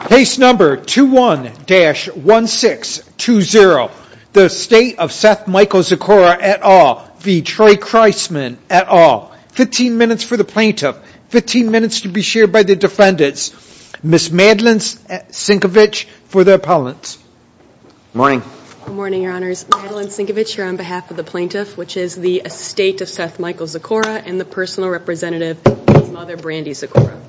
Case number 21-1620, the estate of Seth Michael Zakora et al. v. Troy Chrisman et al. 15 minutes for the plaintiff, 15 minutes to be shared by the defendants. Ms. Madeline Sienkiewicz for the appellants. Good morning. Good morning, your honors. Madeline Sienkiewicz here on behalf of the plaintiff, which is the estate of Seth Michael Zakora and the personal representative, his mother, Brandy Zakora.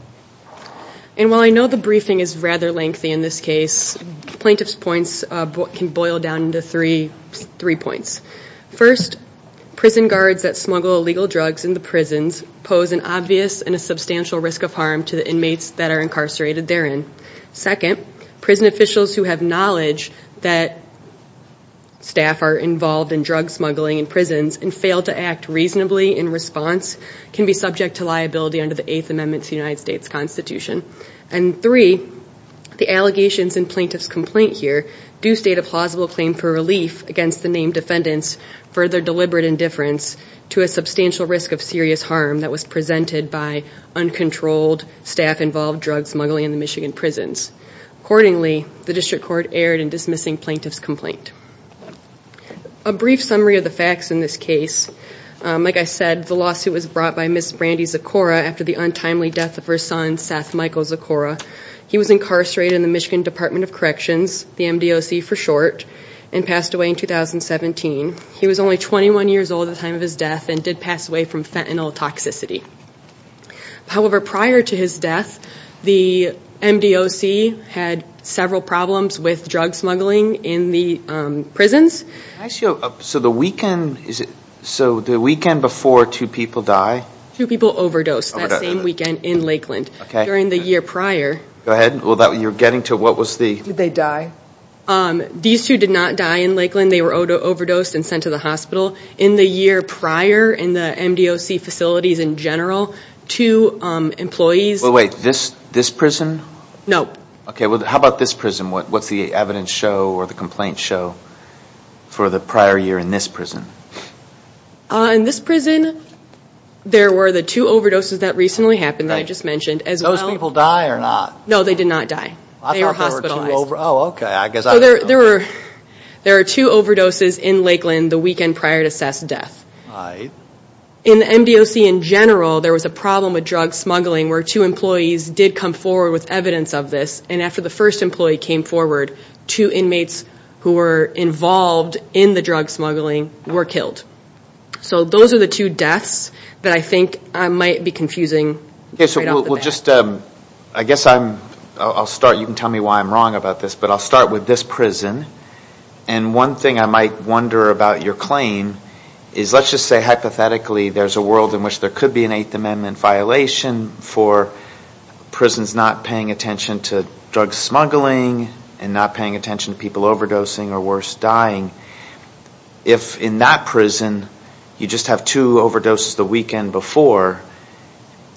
And while I know the briefing is rather lengthy in this case, plaintiff's points can boil down to three points. First, prison guards that smuggle illegal drugs into prisons pose an obvious and a substantial risk of harm to the inmates that are incarcerated therein. Second, prison officials who have knowledge that staff are involved in drug smuggling in prisons and fail to act reasonably in response can be subject to liability under the Eighth Amendment to the United States Constitution. And three, the allegations in plaintiff's complaint here do state a plausible claim for relief against the named defendants for their deliberate indifference to a substantial risk of serious harm that was presented by uncontrolled staff-involved drug smuggling in the Michigan prisons. Accordingly, the district court erred in dismissing plaintiff's complaint. A brief summary of the facts in this case. Like I said, the lawsuit was brought by Ms. Brandy Zakora after the untimely death of her son, Seth Michael Zakora. He was incarcerated in the Michigan Department of Corrections, the MDOC for short, and passed away in 2017. He was only 21 years old at the time of his death and did pass away from fentanyl toxicity. However, prior to his death, the MDOC had several problems with drug smuggling in the prisons. Can I ask you, so the weekend before two people die? Two people overdosed that same weekend in Lakeland. During the year prior. Go ahead. You're getting to what was the... Did they die? These two did not die in Lakeland. They were overdosed and sent to the hospital. In the year prior, in the MDOC facilities in general, two employees... Wait, this prison? No. How about this prison? What's the evidence show or the complaints show for the prior year in this prison? In this prison, there were the two overdoses that recently happened that I just mentioned. Did those people die or not? No, they did not die. They were hospitalized. Oh, okay. There were two overdoses in Lakeland the weekend prior to Seth's death. In the MDOC in general, there was a problem with drug smuggling where two employees did come forward with evidence of this, and after the first employee came forward, two inmates who were involved in the drug smuggling were killed. So those are the two deaths that I think might be confusing right off the bat. I guess I'll start. You can tell me why I'm wrong about this, but I'll start with this prison. One thing I might wonder about your claim is let's just say hypothetically there's a world in which there could be an Eighth Amendment violation for prisons not paying attention to drug smuggling and not paying attention to people overdosing or worse, dying. If in that prison, you just have two overdoses the weekend before,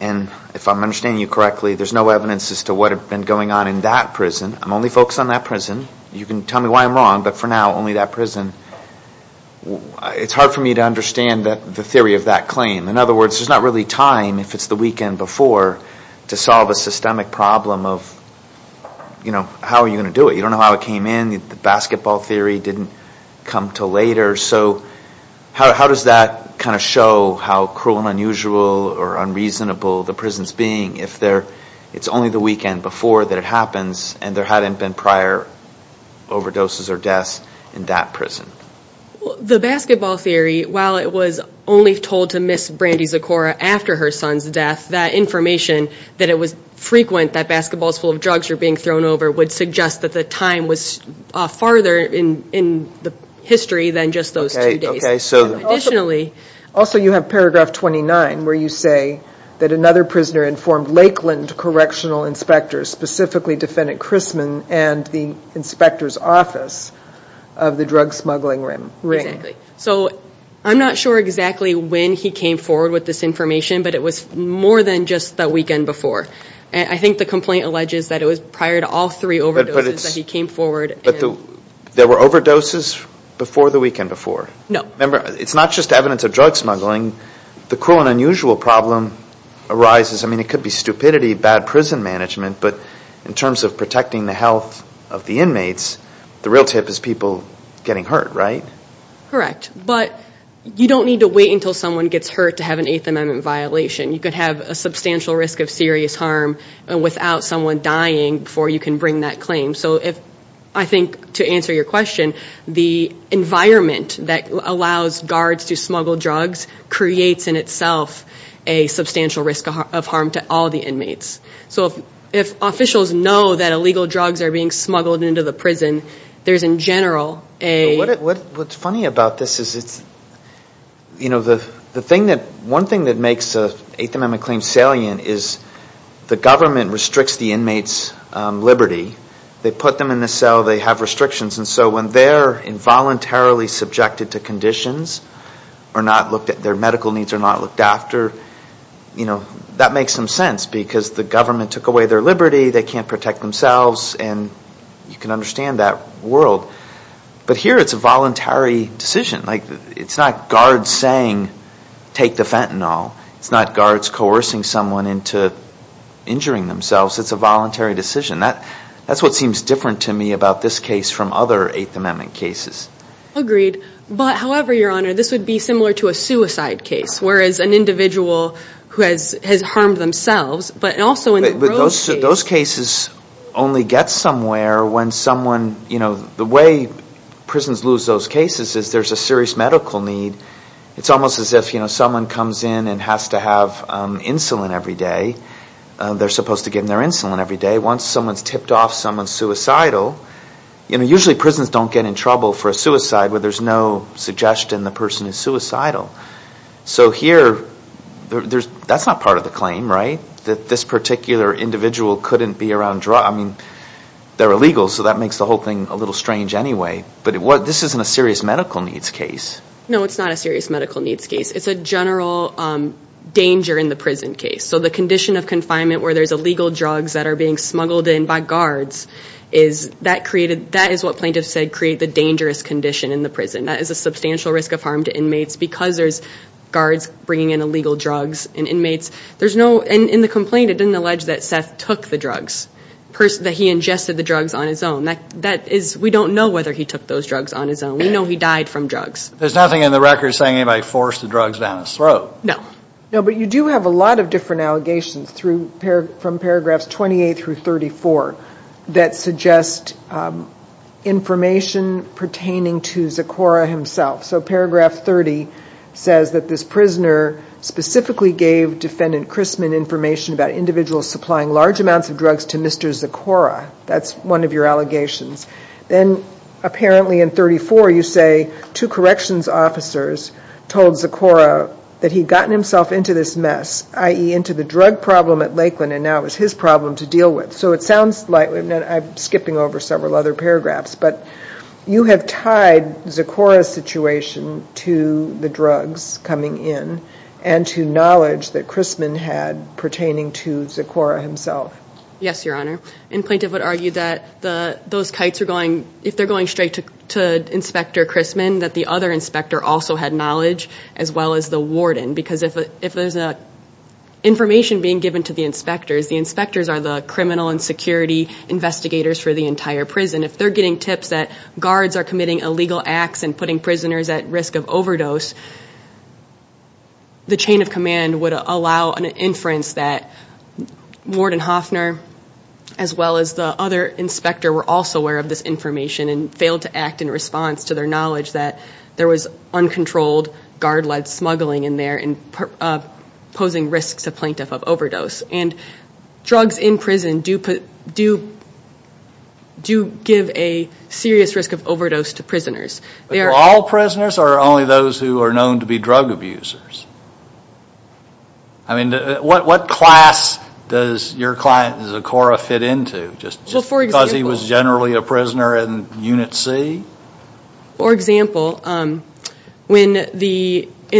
and if I'm understanding you correctly, there's no evidence as to what had been going on in that prison. I'm only focused on that prison. You can tell me why I'm wrong, but for now, only that prison. It's hard for me to understand the theory of that claim. In other words, there's not really time, if it's the weekend before, to solve a systemic problem of how are you going to do it. You don't know how it came in. The basketball theory didn't come until later. So how does that kind of show how cruel and unusual or unreasonable the prison's being if it's only the weekend before that it happens, and there hadn't been prior overdoses or deaths in that prison? The basketball theory, while it was only told to Miss Brandy Zucora after her son's death, that information that it was frequent that basketballs full of drugs were being thrown over would suggest that the time was farther in the history than just those two days. Additionally, also you have paragraph 29 where you say that another prisoner informed Lakeland Correctional Inspectors, specifically Defendant Chrisman and the inspector's office of the drug smuggling ring. Exactly. So I'm not sure exactly when he came forward with this information, but it was more than just the weekend before. I think the complaint alleges that it was prior to all three overdoses that he came forward. But there were overdoses before the weekend before? No. Remember, it's not just evidence of drug smuggling. The cruel and unusual problem arises. I mean, it could be stupidity, bad prison management, but in terms of protecting the health of the inmates, the real tip is people getting hurt, right? Correct. But you don't need to wait until someone gets hurt to have an Eighth Amendment violation. You could have a substantial risk of serious harm without someone dying before you can bring that claim. So I think to answer your question, the environment that allows guards to smuggle drugs creates in itself a substantial risk of harm to all the inmates. So if officials know that illegal drugs are being smuggled into the prison, there's in general a – What's funny about this is it's – you know, the thing that – one thing that makes an Eighth Amendment claim salient is the government restricts the inmates' liberty. They put them in the cell. They have restrictions. And so when they're involuntarily subjected to conditions or not looked – their medical needs are not looked after, you know, that makes some sense because the government took away their liberty. They can't protect themselves. And you can understand that world. But here it's a voluntary decision. Like, it's not guards saying, take the fentanyl. It's not guards coercing someone into injuring themselves. It's a voluntary decision. That's what seems different to me about this case from other Eighth Amendment cases. Agreed. But however, Your Honor, this would be similar to a suicide case, whereas an individual who has harmed themselves, but also in the road case. But those cases only get somewhere when someone – you know, the way prisons lose those cases is there's a serious medical need. It's almost as if, you know, someone comes in and has to have insulin every day. They're supposed to give them their insulin every day. Once someone's tipped off, someone's suicidal. You know, usually prisons don't get in trouble for a suicide where there's no suggestion the person is suicidal. So here, that's not part of the claim, right, that this particular individual couldn't be around drugs. I mean, they're illegal, so that makes the whole thing a little strange anyway. But this isn't a serious medical needs case. No, it's not a serious medical needs case. It's a general danger in the prison case. So the condition of confinement where there's illegal drugs that are being smuggled in by guards, that is what plaintiffs said create the dangerous condition in the prison. That is a substantial risk of harm to inmates because there's guards bringing in illegal drugs and inmates. In the complaint, it didn't allege that Seth took the drugs, that he ingested the drugs on his own. We don't know whether he took those drugs on his own. We know he died from drugs. There's nothing in the record saying anybody forced the drugs down his throat. No. No, but you do have a lot of different allegations from Paragraphs 28 through 34 that suggest information pertaining to Zecora himself. So Paragraph 30 says that this prisoner specifically gave Defendant Christman information about individuals supplying large amounts of drugs to Mr. Zecora. That's one of your allegations. Then, apparently in 34, you say two corrections officers told Zecora that he'd gotten himself into this mess, i.e., into the drug problem at Lakeland, and now it was his problem to deal with. So it sounds like I'm skipping over several other paragraphs, but you have tied Zecora's situation to the drugs coming in and to knowledge that Christman had pertaining to Zecora himself. Yes, Your Honor. And plaintiff would argue that those kites are going, if they're going straight to Inspector Christman, that the other inspector also had knowledge as well as the warden because if there's information being given to the inspectors, the inspectors are the criminal and security investigators for the entire prison. If they're getting tips that guards are committing illegal acts and putting prisoners at risk of overdose, the chain of command would allow an inference that Warden Hoffner as well as the other inspector were also aware of this information and failed to act in response to their knowledge that there was uncontrolled guard-led smuggling in there and posing risks to plaintiff of overdose. And drugs in prison do give a serious risk of overdose to prisoners. All prisoners or only those who are known to be drug abusers? I mean, what class does your client, Zecora, fit into? Just because he was generally a prisoner in Unit C? For example, in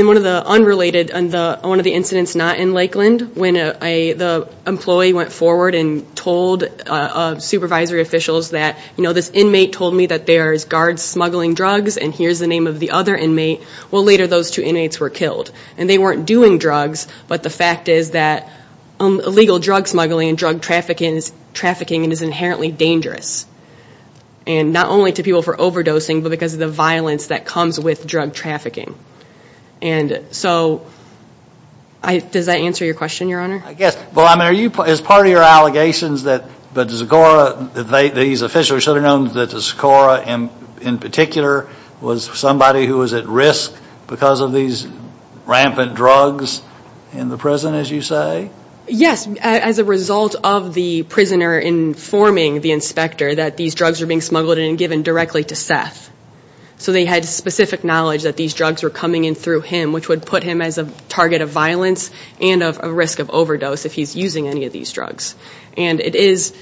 one of the unrelated, one of the incidents not in Lakeland, when the employee went forward and told supervisory officials that, you know, this inmate told me that there's guards smuggling drugs and here's the name of the other inmate, well, later those two inmates were killed. And they weren't doing drugs, but the fact is that illegal drug smuggling and drug trafficking is inherently dangerous. And not only to people for overdosing, but because of the violence that comes with drug trafficking. And so, does that answer your question, Your Honor? Yes. Well, I mean, as part of your allegations that Zecora, these officials should have known that Zecora in particular was somebody who was at risk because of these rampant drugs in the prison, as you say? Yes. As a result of the prisoner informing the inspector that these drugs were being smuggled and given directly to Seth. So they had specific knowledge that these drugs were coming in through him, which would put him as a target of violence and of a risk of overdose if he's using any of these drugs. And it is,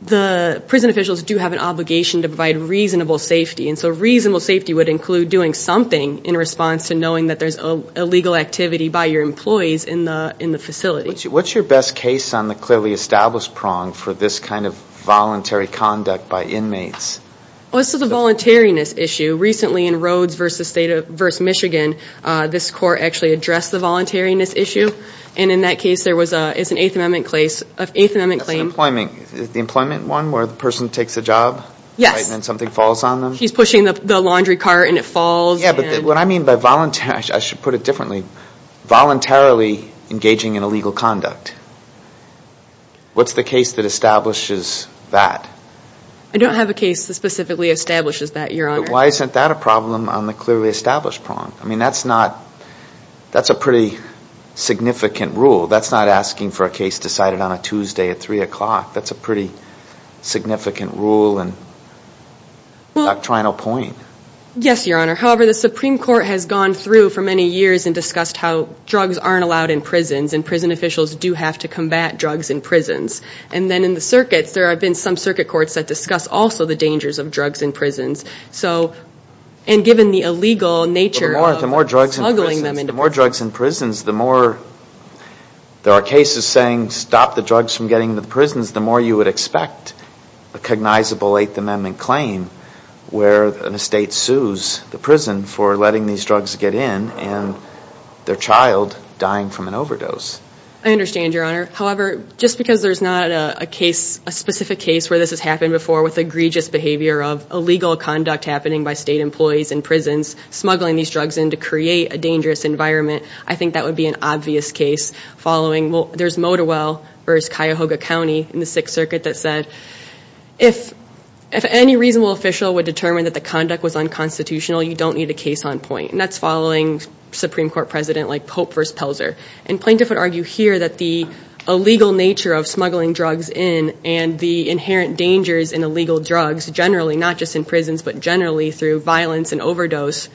the prison officials do have an obligation to provide reasonable safety. And so reasonable safety would include doing something in response to knowing that there's illegal activity by your employees in the facility. What's your best case on the clearly established prong for this kind of voluntary conduct by inmates? Well, this is a voluntariness issue. Recently in Rhodes v. Michigan, this court actually addressed the voluntariness issue. And in that case, there was an Eighth Amendment claim. That's the employment one where the person takes a job? Yes. And then something falls on them? He's pushing the laundry cart and it falls. I should put it differently. Voluntarily engaging in illegal conduct. What's the case that establishes that? I don't have a case that specifically establishes that, Your Honor. Why isn't that a problem on the clearly established prong? I mean, that's a pretty significant rule. That's not asking for a case decided on a Tuesday at 3 o'clock. That's a pretty significant rule and doctrinal point. Yes, Your Honor. However, the Supreme Court has gone through for many years and discussed how drugs aren't allowed in prisons and prison officials do have to combat drugs in prisons. And then in the circuits, there have been some circuit courts that discuss also the dangers of drugs in prisons. And given the illegal nature of smuggling them into prisons. The more drugs in prisons, the more there are cases saying, stop the drugs from getting into the prisons, the more you would expect a cognizable Eighth Amendment claim where the state sues the prison for letting these drugs get in and their child dying from an overdose. I understand, Your Honor. However, just because there's not a specific case where this has happened before with egregious behavior of illegal conduct happening by state employees in prisons, smuggling these drugs in to create a dangerous environment, I think that would be an obvious case following. There's Motowell v. Cuyahoga County in the Sixth Circuit that said, if any reasonable official would determine that the conduct was unconstitutional, you don't need a case on point. And that's following Supreme Court President like Pope v. Pelzer. And plaintiffs would argue here that the illegal nature of smuggling drugs in and the inherent dangers in illegal drugs, generally, not just in prisons, but generally through violence and overdose,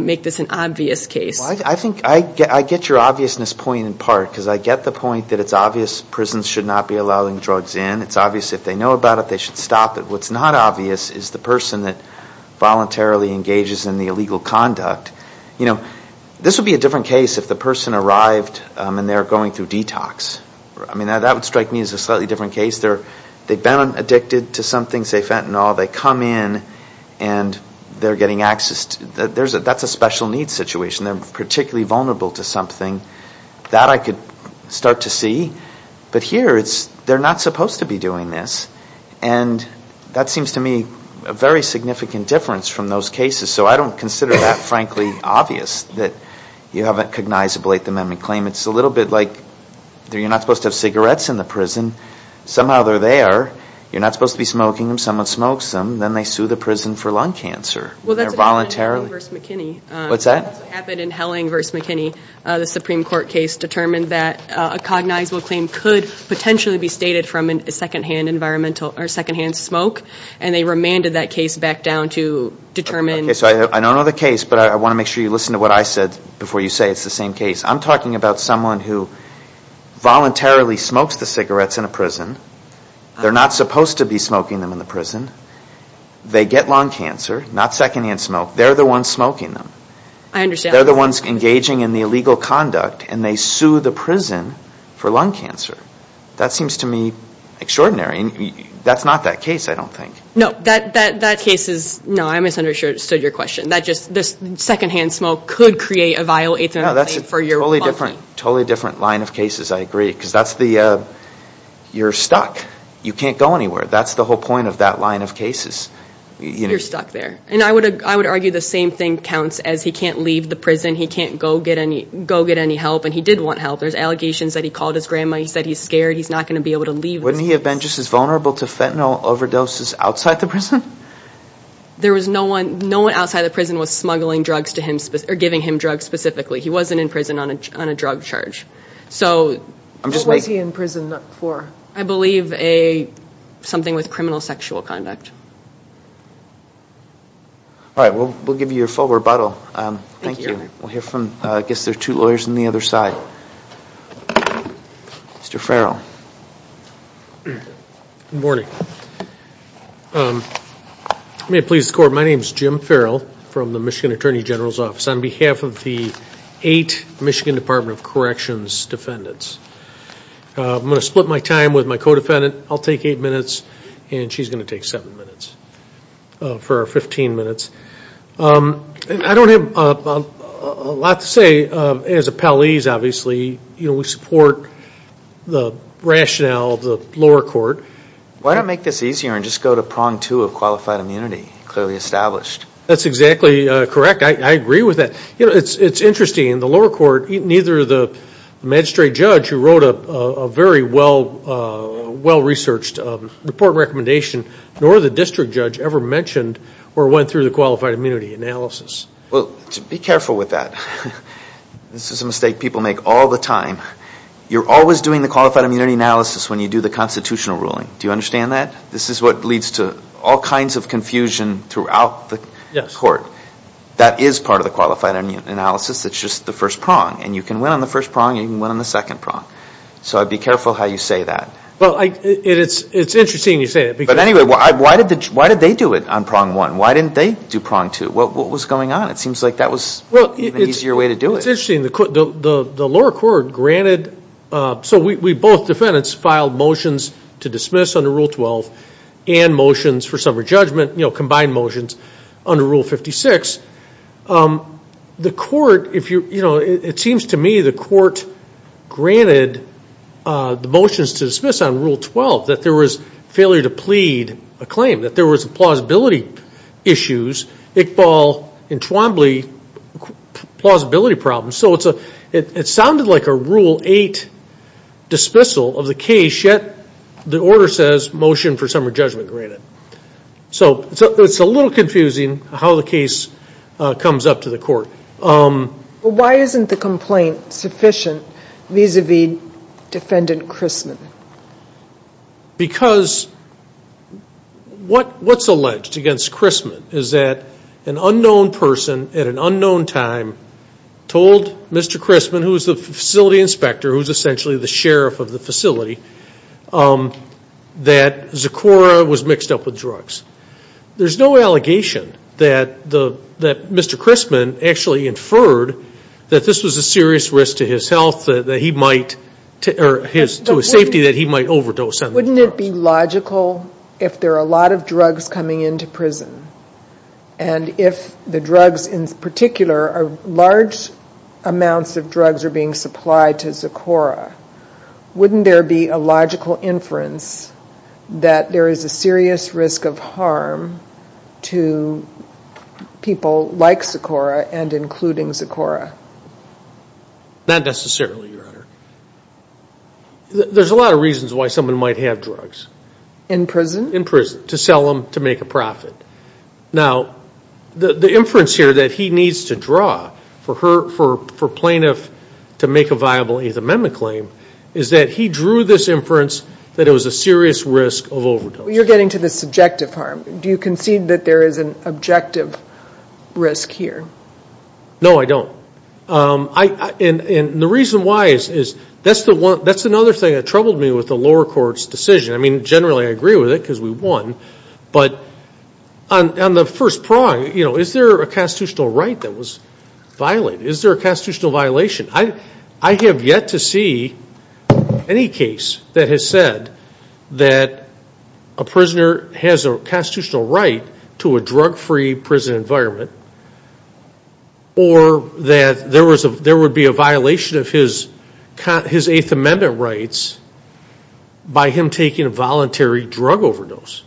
make this an obvious case. I think I get your obviousness point in part because I get the point that it's obvious prisons should not be allowing drugs in. It's obvious if they know about it, they should stop it. What's not obvious is the person that voluntarily engages in the illegal conduct. You know, this would be a different case if the person arrived and they're going through detox. I mean, that would strike me as a slightly different case. They've been addicted to something, say fentanyl. They come in and they're getting access to it. That's a special needs situation. They're particularly vulnerable to something. That I could start to see. But here, they're not supposed to be doing this. And that seems to me a very significant difference from those cases. So I don't consider that, frankly, obvious that you have a cognizable Eighth Amendment claim. It's a little bit like you're not supposed to have cigarettes in the prison. Somehow they're there. You're not supposed to be smoking them. Someone smokes them. Then they sue the prison for lung cancer. Well, that's what happened in Helling v. McKinney. What's that? That's what happened in Helling v. McKinney. The Supreme Court case determined that a cognizable claim could potentially be stated from a secondhand smoke, and they remanded that case back down to determine. Okay, so I don't know the case, but I want to make sure you listen to what I said before you say it's the same case. I'm talking about someone who voluntarily smokes the cigarettes in a prison. They're not supposed to be smoking them in the prison. They get lung cancer, not secondhand smoke. They're the ones smoking them. I understand. They're the ones engaging in the illegal conduct, and they sue the prison for lung cancer. That seems to me extraordinary. That's not that case, I don't think. No, that case is no. I misunderstood your question. This secondhand smoke could create a vile 8th Amendment claim for your body. No, that's a totally different line of cases, I agree, because you're stuck. You can't go anywhere. That's the whole point of that line of cases. You're stuck there. I would argue the same thing counts as he can't leave the prison, he can't go get any help, and he did want help. There's allegations that he called his grandma, he said he's scared, he's not going to be able to leave. Wouldn't he have been just as vulnerable to fentanyl overdoses outside the prison? No one outside the prison was smuggling drugs to him, or giving him drugs specifically. He wasn't in prison on a drug charge. What was he in prison for? I believe something with criminal sexual conduct. All right, we'll give you your full rebuttal. Thank you. I guess there are two lawyers on the other side. Mr. Farrell. Good morning. May it please the Court, my name is Jim Farrell from the Michigan Attorney General's Office. On behalf of the eight Michigan Department of Corrections defendants, I'm going to split my time with my co-defendant. I'll take eight minutes, and she's going to take seven minutes for our 15 minutes. I don't have a lot to say. As appellees, obviously, we support the rationale of the lower court. Why not make this easier and just go to prong two of qualified immunity, clearly established? That's exactly correct. I agree with that. You know, it's interesting, the lower court, neither the magistrate judge who wrote a very well-researched report recommendation, nor the district judge ever mentioned or went through the qualified immunity analysis. Well, be careful with that. This is a mistake people make all the time. You're always doing the qualified immunity analysis when you do the constitutional ruling. Do you understand that? This is what leads to all kinds of confusion throughout the court. That is part of the qualified immunity analysis. It's just the first prong. And you can win on the first prong, and you can win on the second prong. So be careful how you say that. Well, it's interesting you say that. But anyway, why did they do it on prong one? Why didn't they do prong two? What was going on? It seems like that was an easier way to do it. Well, it's interesting. The lower court granted. So we both defendants filed motions to dismiss under Rule 12 and motions for summary judgment, you know, combined motions under Rule 56. The court, you know, it seems to me the court granted the motions to dismiss on Rule 12 that there was failure to plead a claim, that there was plausibility issues, Iqbal and Twombly plausibility problems. So it sounded like a Rule 8 dismissal of the case, yet the order says motion for summary judgment granted. So it's a little confusing how the case comes up to the court. Well, why isn't the complaint sufficient vis-à-vis Defendant Christman? Because what's alleged against Christman is that an unknown person at an unknown time told Mr. Christman, who was the facility inspector, who was essentially the sheriff of the facility, that Zucora was mixed up with drugs. There's no allegation that Mr. Christman actually inferred that this was a serious risk to his health, that he might, or to his safety, that he might overdose on the drugs. Wouldn't it be logical if there are a lot of drugs coming into prison and if the drugs in particular are large amounts of drugs are being supplied to Zucora, wouldn't there be a logical inference that there is a serious risk of harm to people like Zucora and including Zucora? Not necessarily, Your Honor. There's a lot of reasons why someone might have drugs. In prison? In prison, to sell them to make a profit. Now, the inference here that he needs to draw for plaintiff to make a viable Eighth Amendment claim is that he drew this inference that it was a serious risk of overdose. You're getting to the subjective harm. Do you concede that there is an objective risk here? No, I don't. And the reason why is that's another thing that troubled me with the lower court's decision. I mean, generally I agree with it because we won, but on the first prong, is there a constitutional right that was violated? Is there a constitutional violation? I have yet to see any case that has said that a prisoner has a constitutional right to a drug-free prison environment or that there would be a violation of his Eighth Amendment rights by him taking a voluntary drug overdose.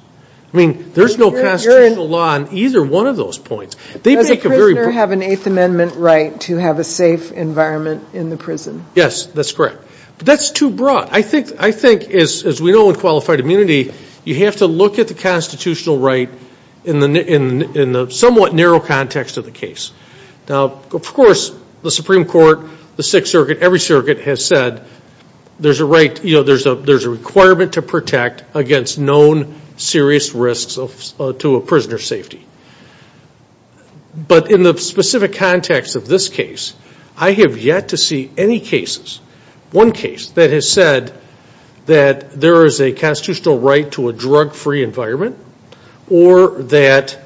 I mean, there's no constitutional law on either one of those points. Does a prisoner have an Eighth Amendment right to have a safe environment in the prison? Yes, that's correct. But that's too broad. I think, as we know in qualified immunity, you have to look at the constitutional right in the somewhat narrow context of the case. Now, of course, the Supreme Court, the Sixth Circuit, every circuit has said there's a requirement to protect against known serious risks to a prisoner's safety. But in the specific context of this case, I have yet to see any cases, one case that has said that there is a constitutional right to a drug-free environment or that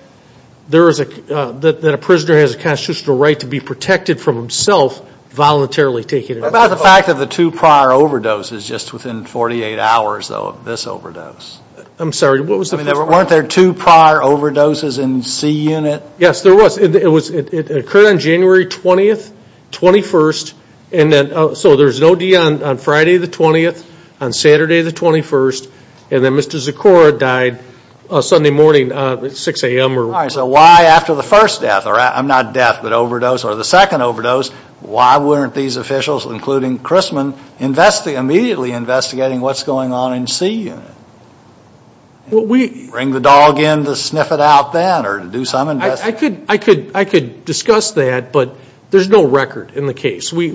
a prisoner has a constitutional right to be protected from himself voluntarily taking a drug overdose. What about the fact of the two prior overdoses just within 48 hours, though, of this overdose? I'm sorry, what was the first part? I mean, weren't there two prior overdoses in C Unit? Yes, there was. It occurred on January 20th, 21st, so there's an OD on Friday the 20th, on Saturday the 21st, and then Mr. Zakora died Sunday morning at 6 a.m. All right, so why after the first death, or not death, but overdose, or the second overdose, why weren't these officials, including Christman, immediately investigating what's going on in C Unit? Bring the dog in to sniff it out then or to do some investigation? I could discuss that, but there's no record in the case. But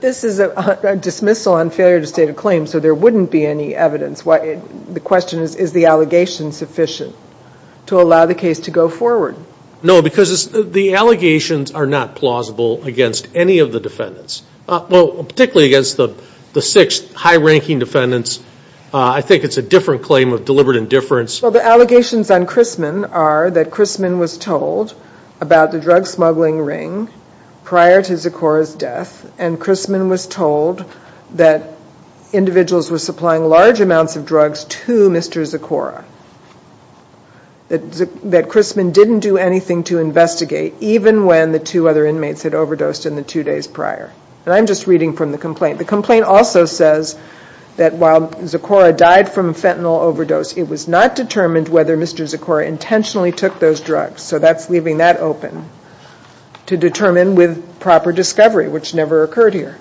this is a dismissal on failure to state a claim, so there wouldn't be any evidence. The question is, is the allegation sufficient to allow the case to go forward? No, because the allegations are not plausible against any of the defendants, particularly against the sixth high-ranking defendants. I think it's a different claim of deliberate indifference. Well, the allegations on Christman are that Christman was told about the drug smuggling ring prior to Zakora's death, and Christman was told that individuals were supplying large amounts of drugs to Mr. Zakora, that Christman didn't do anything to investigate, even when the two other inmates had overdosed in the two days prior. And I'm just reading from the complaint. The complaint also says that while Zakora died from a fentanyl overdose, it was not determined whether Mr. Zakora intentionally took those drugs. So that's leaving that open to determine with proper discovery, which never occurred here.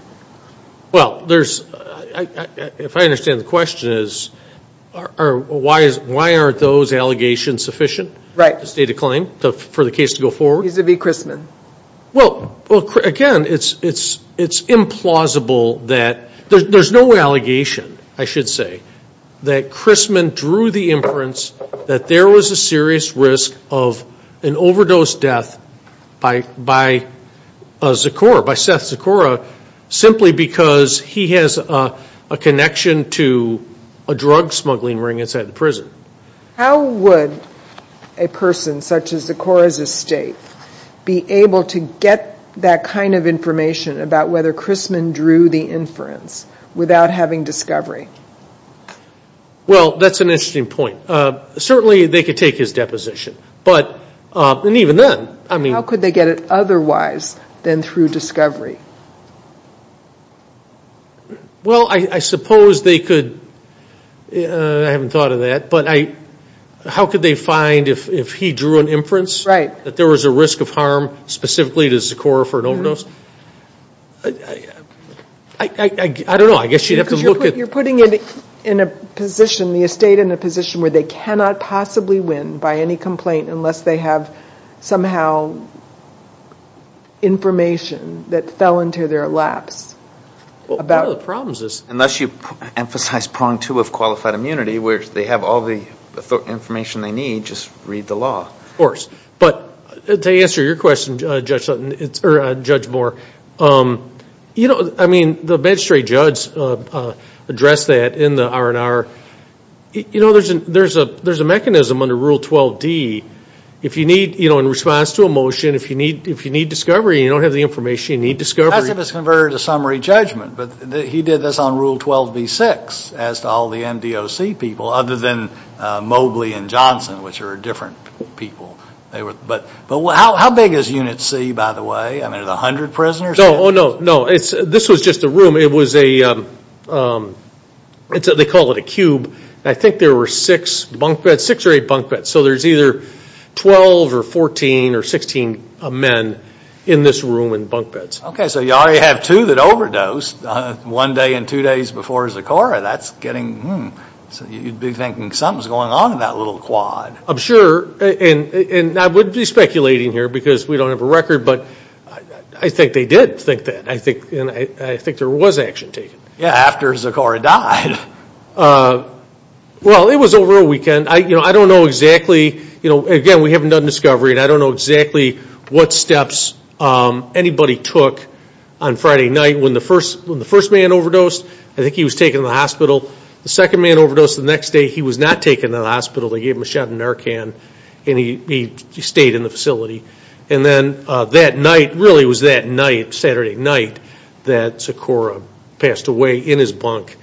Well, if I understand the question, why aren't those allegations sufficient to state a claim for the case to go forward? Right, vis-à-vis Christman. Well, again, it's implausible that there's no allegation, I should say, that Christman drew the inference that there was a serious risk of an overdose death by Zakora, by Seth Zakora, simply because he has a connection to a drug smuggling ring inside the prison. How would a person such as Zakora's estate be able to get that kind of information about whether Christman drew the inference without having discovery? Well, that's an interesting point. Certainly they could take his deposition, and even then. How could they get it otherwise than through discovery? Well, I suppose they could. I haven't thought of that. But how could they find if he drew an inference that there was a risk of harm specifically to Zakora for an overdose? I don't know. I guess you'd have to look at... Because you're putting the estate in a position where they cannot possibly win by any complaint unless they have somehow information that fell into their laps. One of the problems is... Unless you emphasize prong two of qualified immunity, where they have all the information they need, just read the law. Of course. But to answer your question, Judge Moore, I mean, the magistrate judge addressed that in the R&R. You know, there's a mechanism under Rule 12d. In response to a motion, if you need discovery and you don't have the information, you need discovery. As if it's converted to summary judgment. But he did this on Rule 12b-6 as to all the MDOC people other than Mobley and Johnson, which are different people. But how big is Unit C, by the way? I mean, is it 100 prisoners? No, no. This was just a room. It was a... They call it a cube. I think there were six bunk beds. Six or eight bunk beds. So there's either 12 or 14 or 16 men in this room in bunk beds. Okay. So you already have two that overdosed one day and two days before Zecora. That's getting... You'd be thinking something's going on in that little quad. I'm sure. And I wouldn't be speculating here because we don't have a record. But I think they did think that. And I think there was action taken. Yeah, after Zecora died. Well, it was over a weekend. I don't know exactly. Again, we haven't done discovery, and I don't know exactly what steps anybody took on Friday night when the first man overdosed. I think he was taken to the hospital. The second man overdosed the next day. He was not taken to the hospital. They gave him a shot of Narcan, and he stayed in the facility. And then that night, really it was that night, Saturday night, that Zecora passed away in his bunk.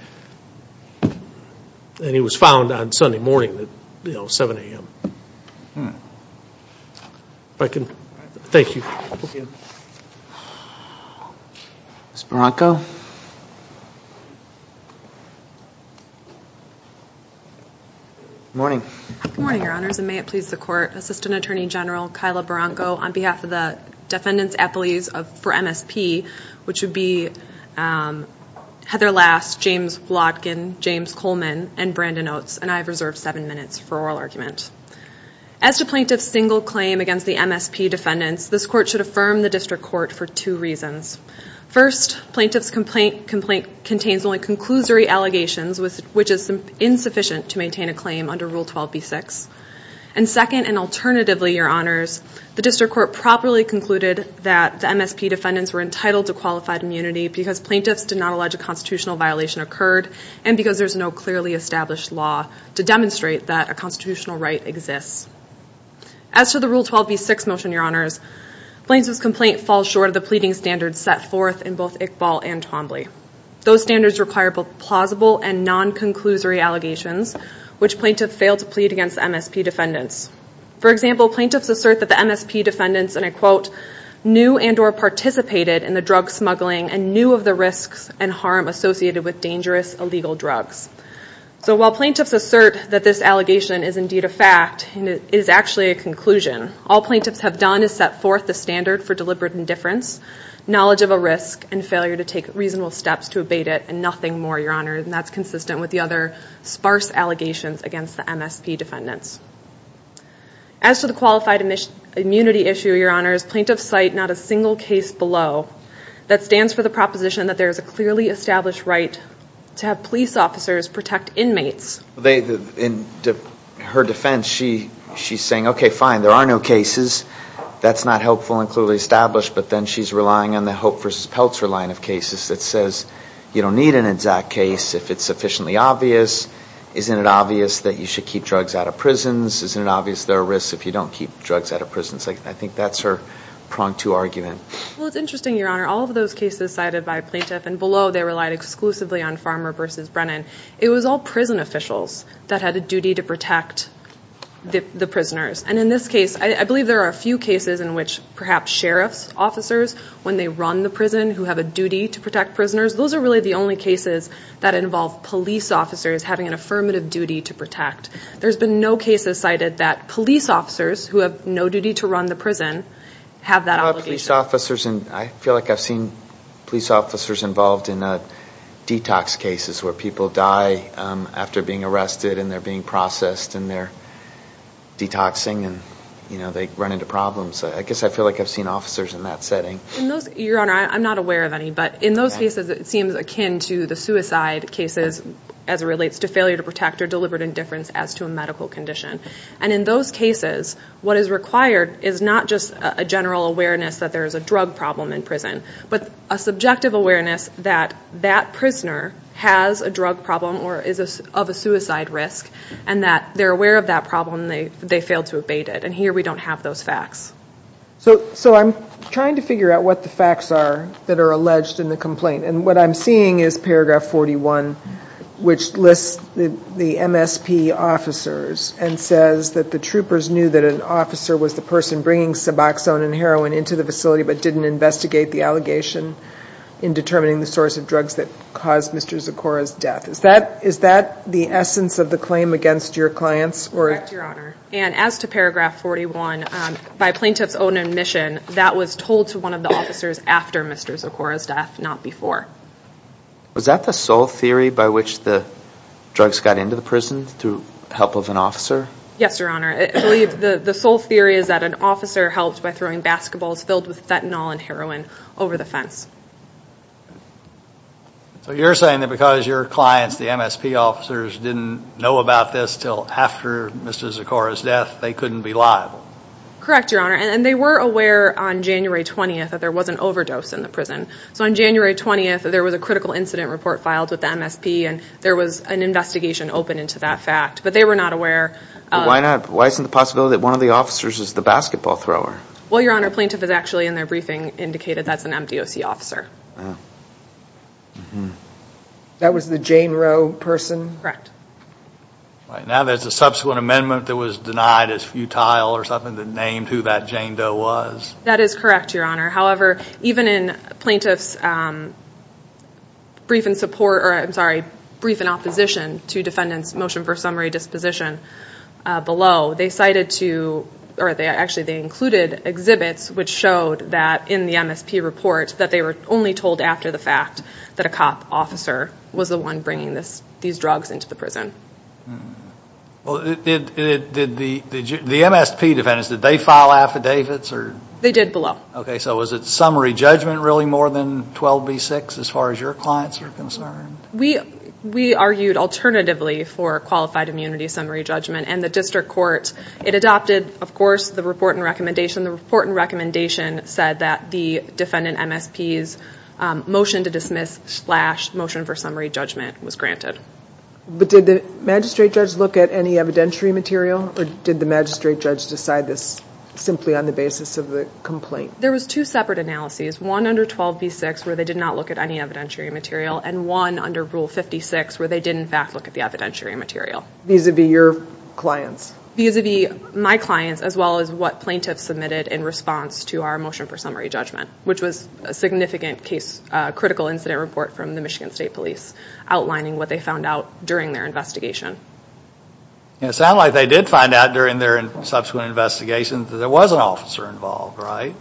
And he was found on Sunday morning at 7 a.m. If I can... Thank you. Ms. Barranco? Good morning. Good morning, Your Honors, and may it please the Court, Assistant Attorney General Kyla Barranco, on behalf of the defendants' appellees for MSP, which would be Heather Last, James Wladkin, James Coleman, and Brandon Oates. And I have reserved seven minutes for oral argument. As to plaintiff's single claim against the MSP defendants, this Court should affirm the District Court for two reasons. First, plaintiff's complaint contains only conclusory allegations, which is insufficient to maintain a claim under Rule 12b-6. And second, and alternatively, Your Honors, the District Court properly concluded that the MSP defendants were entitled to qualified immunity because plaintiffs did not allege a constitutional violation occurred and because there's no clearly established law to demonstrate that a constitutional right exists. As to the Rule 12b-6 motion, Your Honors, plaintiff's complaint falls short of the pleading standards set forth in both Iqbal and Twombly. Those standards require both plausible and non-conclusory allegations, which plaintiffs fail to plead against MSP defendants. For example, plaintiffs assert that the MSP defendants, and I quote, knew and or participated in the drug smuggling and knew of the risks and harm associated with dangerous, illegal drugs. So while plaintiffs assert that this allegation is indeed a fact and it is actually a conclusion, all plaintiffs have done is set forth the standard for deliberate indifference, knowledge of a risk, and failure to take reasonable steps to abate it, and nothing more, Your Honors. And that's consistent with the other sparse allegations against the MSP defendants. As to the qualified immunity issue, Your Honors, plaintiffs cite not a single case below that stands for the proposition that there is a clearly established right to have police officers protect inmates. In her defense, she's saying, okay, fine, there are no cases. That's not helpful and clearly established, but then she's relying on the Hope v. Peltzer line of cases that says you don't need an exact case if it's sufficiently obvious. Isn't it obvious that you should keep drugs out of prisons? Isn't it obvious there are risks if you don't keep drugs out of prisons? I think that's her prong to argument. Well, it's interesting, Your Honor. All of those cases cited by plaintiff and below, they relied exclusively on Farmer v. Brennan. It was all prison officials that had a duty to protect the prisoners. And in this case, I believe there are a few cases in which perhaps sheriff's officers, when they run the prison, who have a duty to protect prisoners. Those are really the only cases that involve police officers having an affirmative duty to protect. There's been no cases cited that police officers who have no duty to run the prison have that obligation. I feel like I've seen police officers involved in detox cases where people die after being arrested, and they're being processed, and they're detoxing, and they run into problems. I guess I feel like I've seen officers in that setting. Your Honor, I'm not aware of any. But in those cases, it seems akin to the suicide cases as it relates to failure to protect or deliberate indifference as to a medical condition. And in those cases, what is required is not just a general awareness that there is a drug problem in prison, but a subjective awareness that that prisoner has a drug problem or is of a suicide risk, and that they're aware of that problem and they failed to abate it. And here we don't have those facts. So I'm trying to figure out what the facts are that are alleged in the complaint. And what I'm seeing is paragraph 41, which lists the MSP officers and says that the troopers knew that an officer was the person bringing suboxone and heroin into the facility but didn't investigate the allegation in determining the source of drugs that caused Mr. Zucora's death. Is that the essence of the claim against your clients? Correct, Your Honor. And as to paragraph 41, by plaintiff's own admission, that was told to one of the officers after Mr. Zucora's death, not before. Was that the sole theory by which the drugs got into the prison through the help of an officer? Yes, Your Honor. I believe the sole theory is that an officer helped by throwing basketballs filled with fentanyl and heroin over the fence. So you're saying that because your clients, the MSP officers, didn't know about this until after Mr. Zucora's death, they couldn't be liable? Correct, Your Honor. And they were aware on January 20th that there was an overdose in the prison. So on January 20th, there was a critical incident report filed with the MSP and there was an investigation open into that fact, but they were not aware. Why isn't the possibility that one of the officers is the basketball thrower? Well, Your Honor, plaintiff has actually in their briefing indicated that's an MDOC officer. That was the Jane Roe person? Correct. Now there's a subsequent amendment that was denied as futile or something that named who that Jane Doe was. That is correct, Your Honor. However, even in plaintiff's brief in support, or I'm sorry, brief in opposition to defendant's motion for summary disposition below, they cited to, or actually they included exhibits which showed that in the MSP report that they were only told after the fact that a cop officer was the one bringing these drugs into the prison. Well, did the MSP defendants, did they file affidavits? They did below. Okay, so was it summary judgment really more than 12b-6 as far as your clients are concerned? We argued alternatively for qualified immunity summary judgment, and the district court, it adopted, of course, the report and recommendation. The report and recommendation said that the defendant MSP's motion to dismiss slash motion for summary judgment was granted. But did the magistrate judge look at any evidentiary material or did the magistrate judge decide this simply on the basis of the complaint? There was two separate analyses, one under 12b-6 where they did not look at any evidentiary material and one under Rule 56 where they did, in fact, look at the evidentiary material. Vis-a-vis your clients? Vis-a-vis my clients as well as what plaintiffs submitted in response to our motion for summary judgment, which was a significant case, critical incident report from the Michigan State Police outlining what they found out during their investigation. It sounds like they did find out during their subsequent investigation that there was an officer involved, right?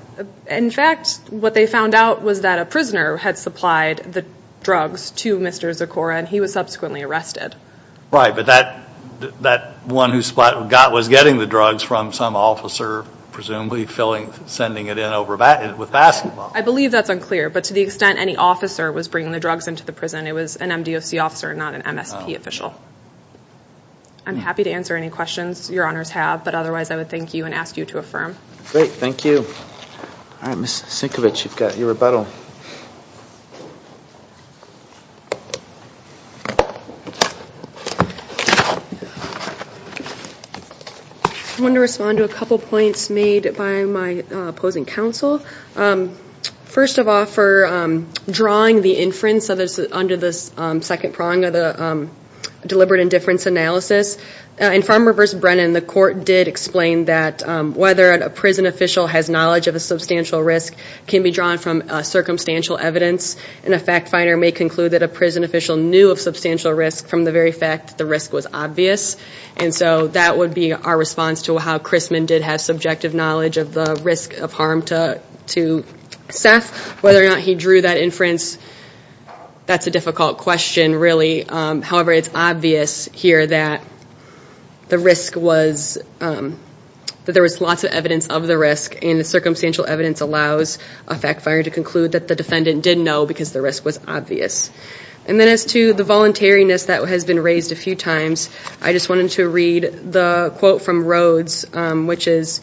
In fact, what they found out was that a prisoner had supplied the drugs to Mr. Zucora and he was subsequently arrested. Right, but that one who got was getting the drugs from some officer, presumably sending it in with basketball. I believe that's unclear, but to the extent any officer was bringing the drugs into the prison, it was an MDOC officer and not an MSP official. I'm happy to answer any questions your honors have, but otherwise I would thank you and ask you to affirm. Great, thank you. All right, Ms. Sienkiewicz, you've got your rebuttal. I want to respond to a couple points made by my opposing counsel. First of all, for drawing the inference under the second prong of the deliberate indifference analysis. In Farmer v. Brennan, the court did explain that whether a prison official has knowledge of a substantial risk can be drawn from circumstantial evidence, and a fact finder may conclude that a prison official knew of substantial risk from the very fact that the risk was obvious. And so that would be our response to how Crisman did have subjective knowledge of the risk of harm to Seth. Whether or not he drew that inference, that's a difficult question really. However, it's obvious here that the risk was, that there was lots of evidence of the risk, and the circumstantial evidence allows a fact finder to conclude that the defendant did know because the risk was obvious. And then as to the voluntariness that has been raised a few times, I just wanted to read the quote from Rhodes, which is,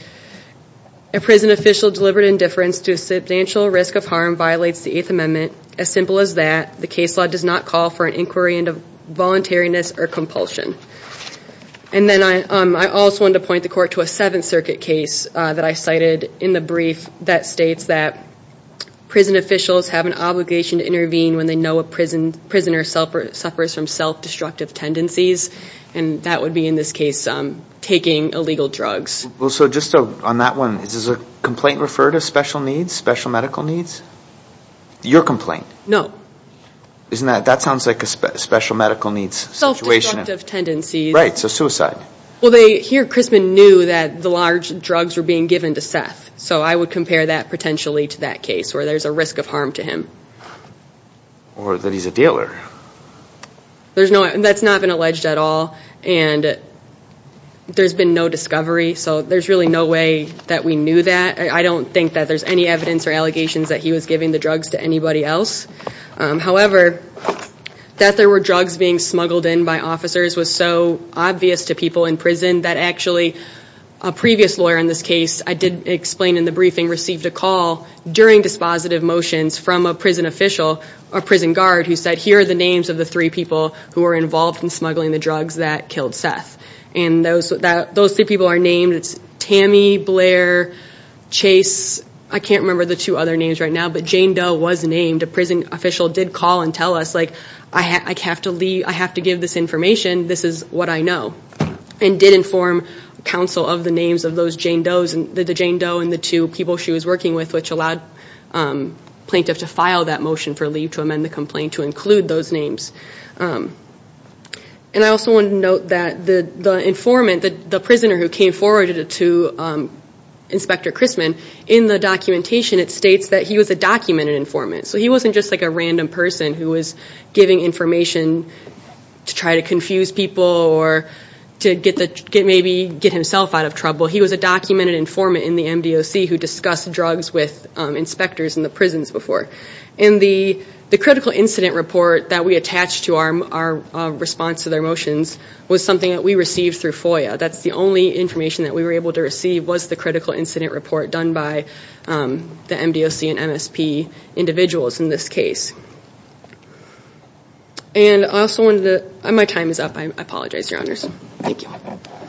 A prison official's deliberate indifference to a substantial risk of harm violates the Eighth Amendment. As simple as that, the case law does not call for an inquiry into voluntariness or compulsion. And then I also wanted to point the court to a Seventh Circuit case that I cited in the brief that states that a prisoner suffers from self-destructive tendencies, and that would be in this case taking illegal drugs. Well, so just on that one, does a complaint refer to special needs, special medical needs? Your complaint? No. Isn't that, that sounds like a special medical needs situation. Self-destructive tendencies. Right, so suicide. Well, here Crisman knew that the large drugs were being given to Seth, so I would compare that potentially to that case where there's a risk of harm to him. Or that he's a dealer. There's no, that's not been alleged at all. And there's been no discovery, so there's really no way that we knew that. I don't think that there's any evidence or allegations that he was giving the drugs to anybody else. However, that there were drugs being smuggled in by officers was so obvious to people in prison that actually a previous lawyer in this case, I did explain in the briefing, received a call during dispositive motions from a prison official, a prison guard, who said, here are the names of the three people who were involved in smuggling the drugs that killed Seth. And those three people are named. It's Tammy, Blair, Chase. I can't remember the two other names right now, but Jane Doe was named. A prison official did call and tell us, like, I have to leave, I have to give this information. This is what I know. And did inform counsel of the names of those Jane Does, the Jane Doe and the two people she was working with, which allowed plaintiffs to file that motion for leave to amend the complaint to include those names. And I also want to note that the informant, the prisoner who came forward to Inspector Christman, in the documentation it states that he was a documented informant. So he wasn't just like a random person who was giving information to try to confuse people or to maybe get himself out of trouble. He was a documented informant in the MDOC who discussed drugs with inspectors in the prisons before. And the critical incident report that we attached to our response to their motions was something that we received through FOIA. That's the only information that we were able to receive was the critical incident report done by the MDOC and MSP individuals in this case. And I also wanted to, my time is up, I apologize, your honors. Thank you.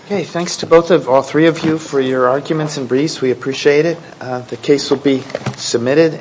Okay, thanks to both of, all three of you for your arguments and briefs, we appreciate it. The case will be submitted.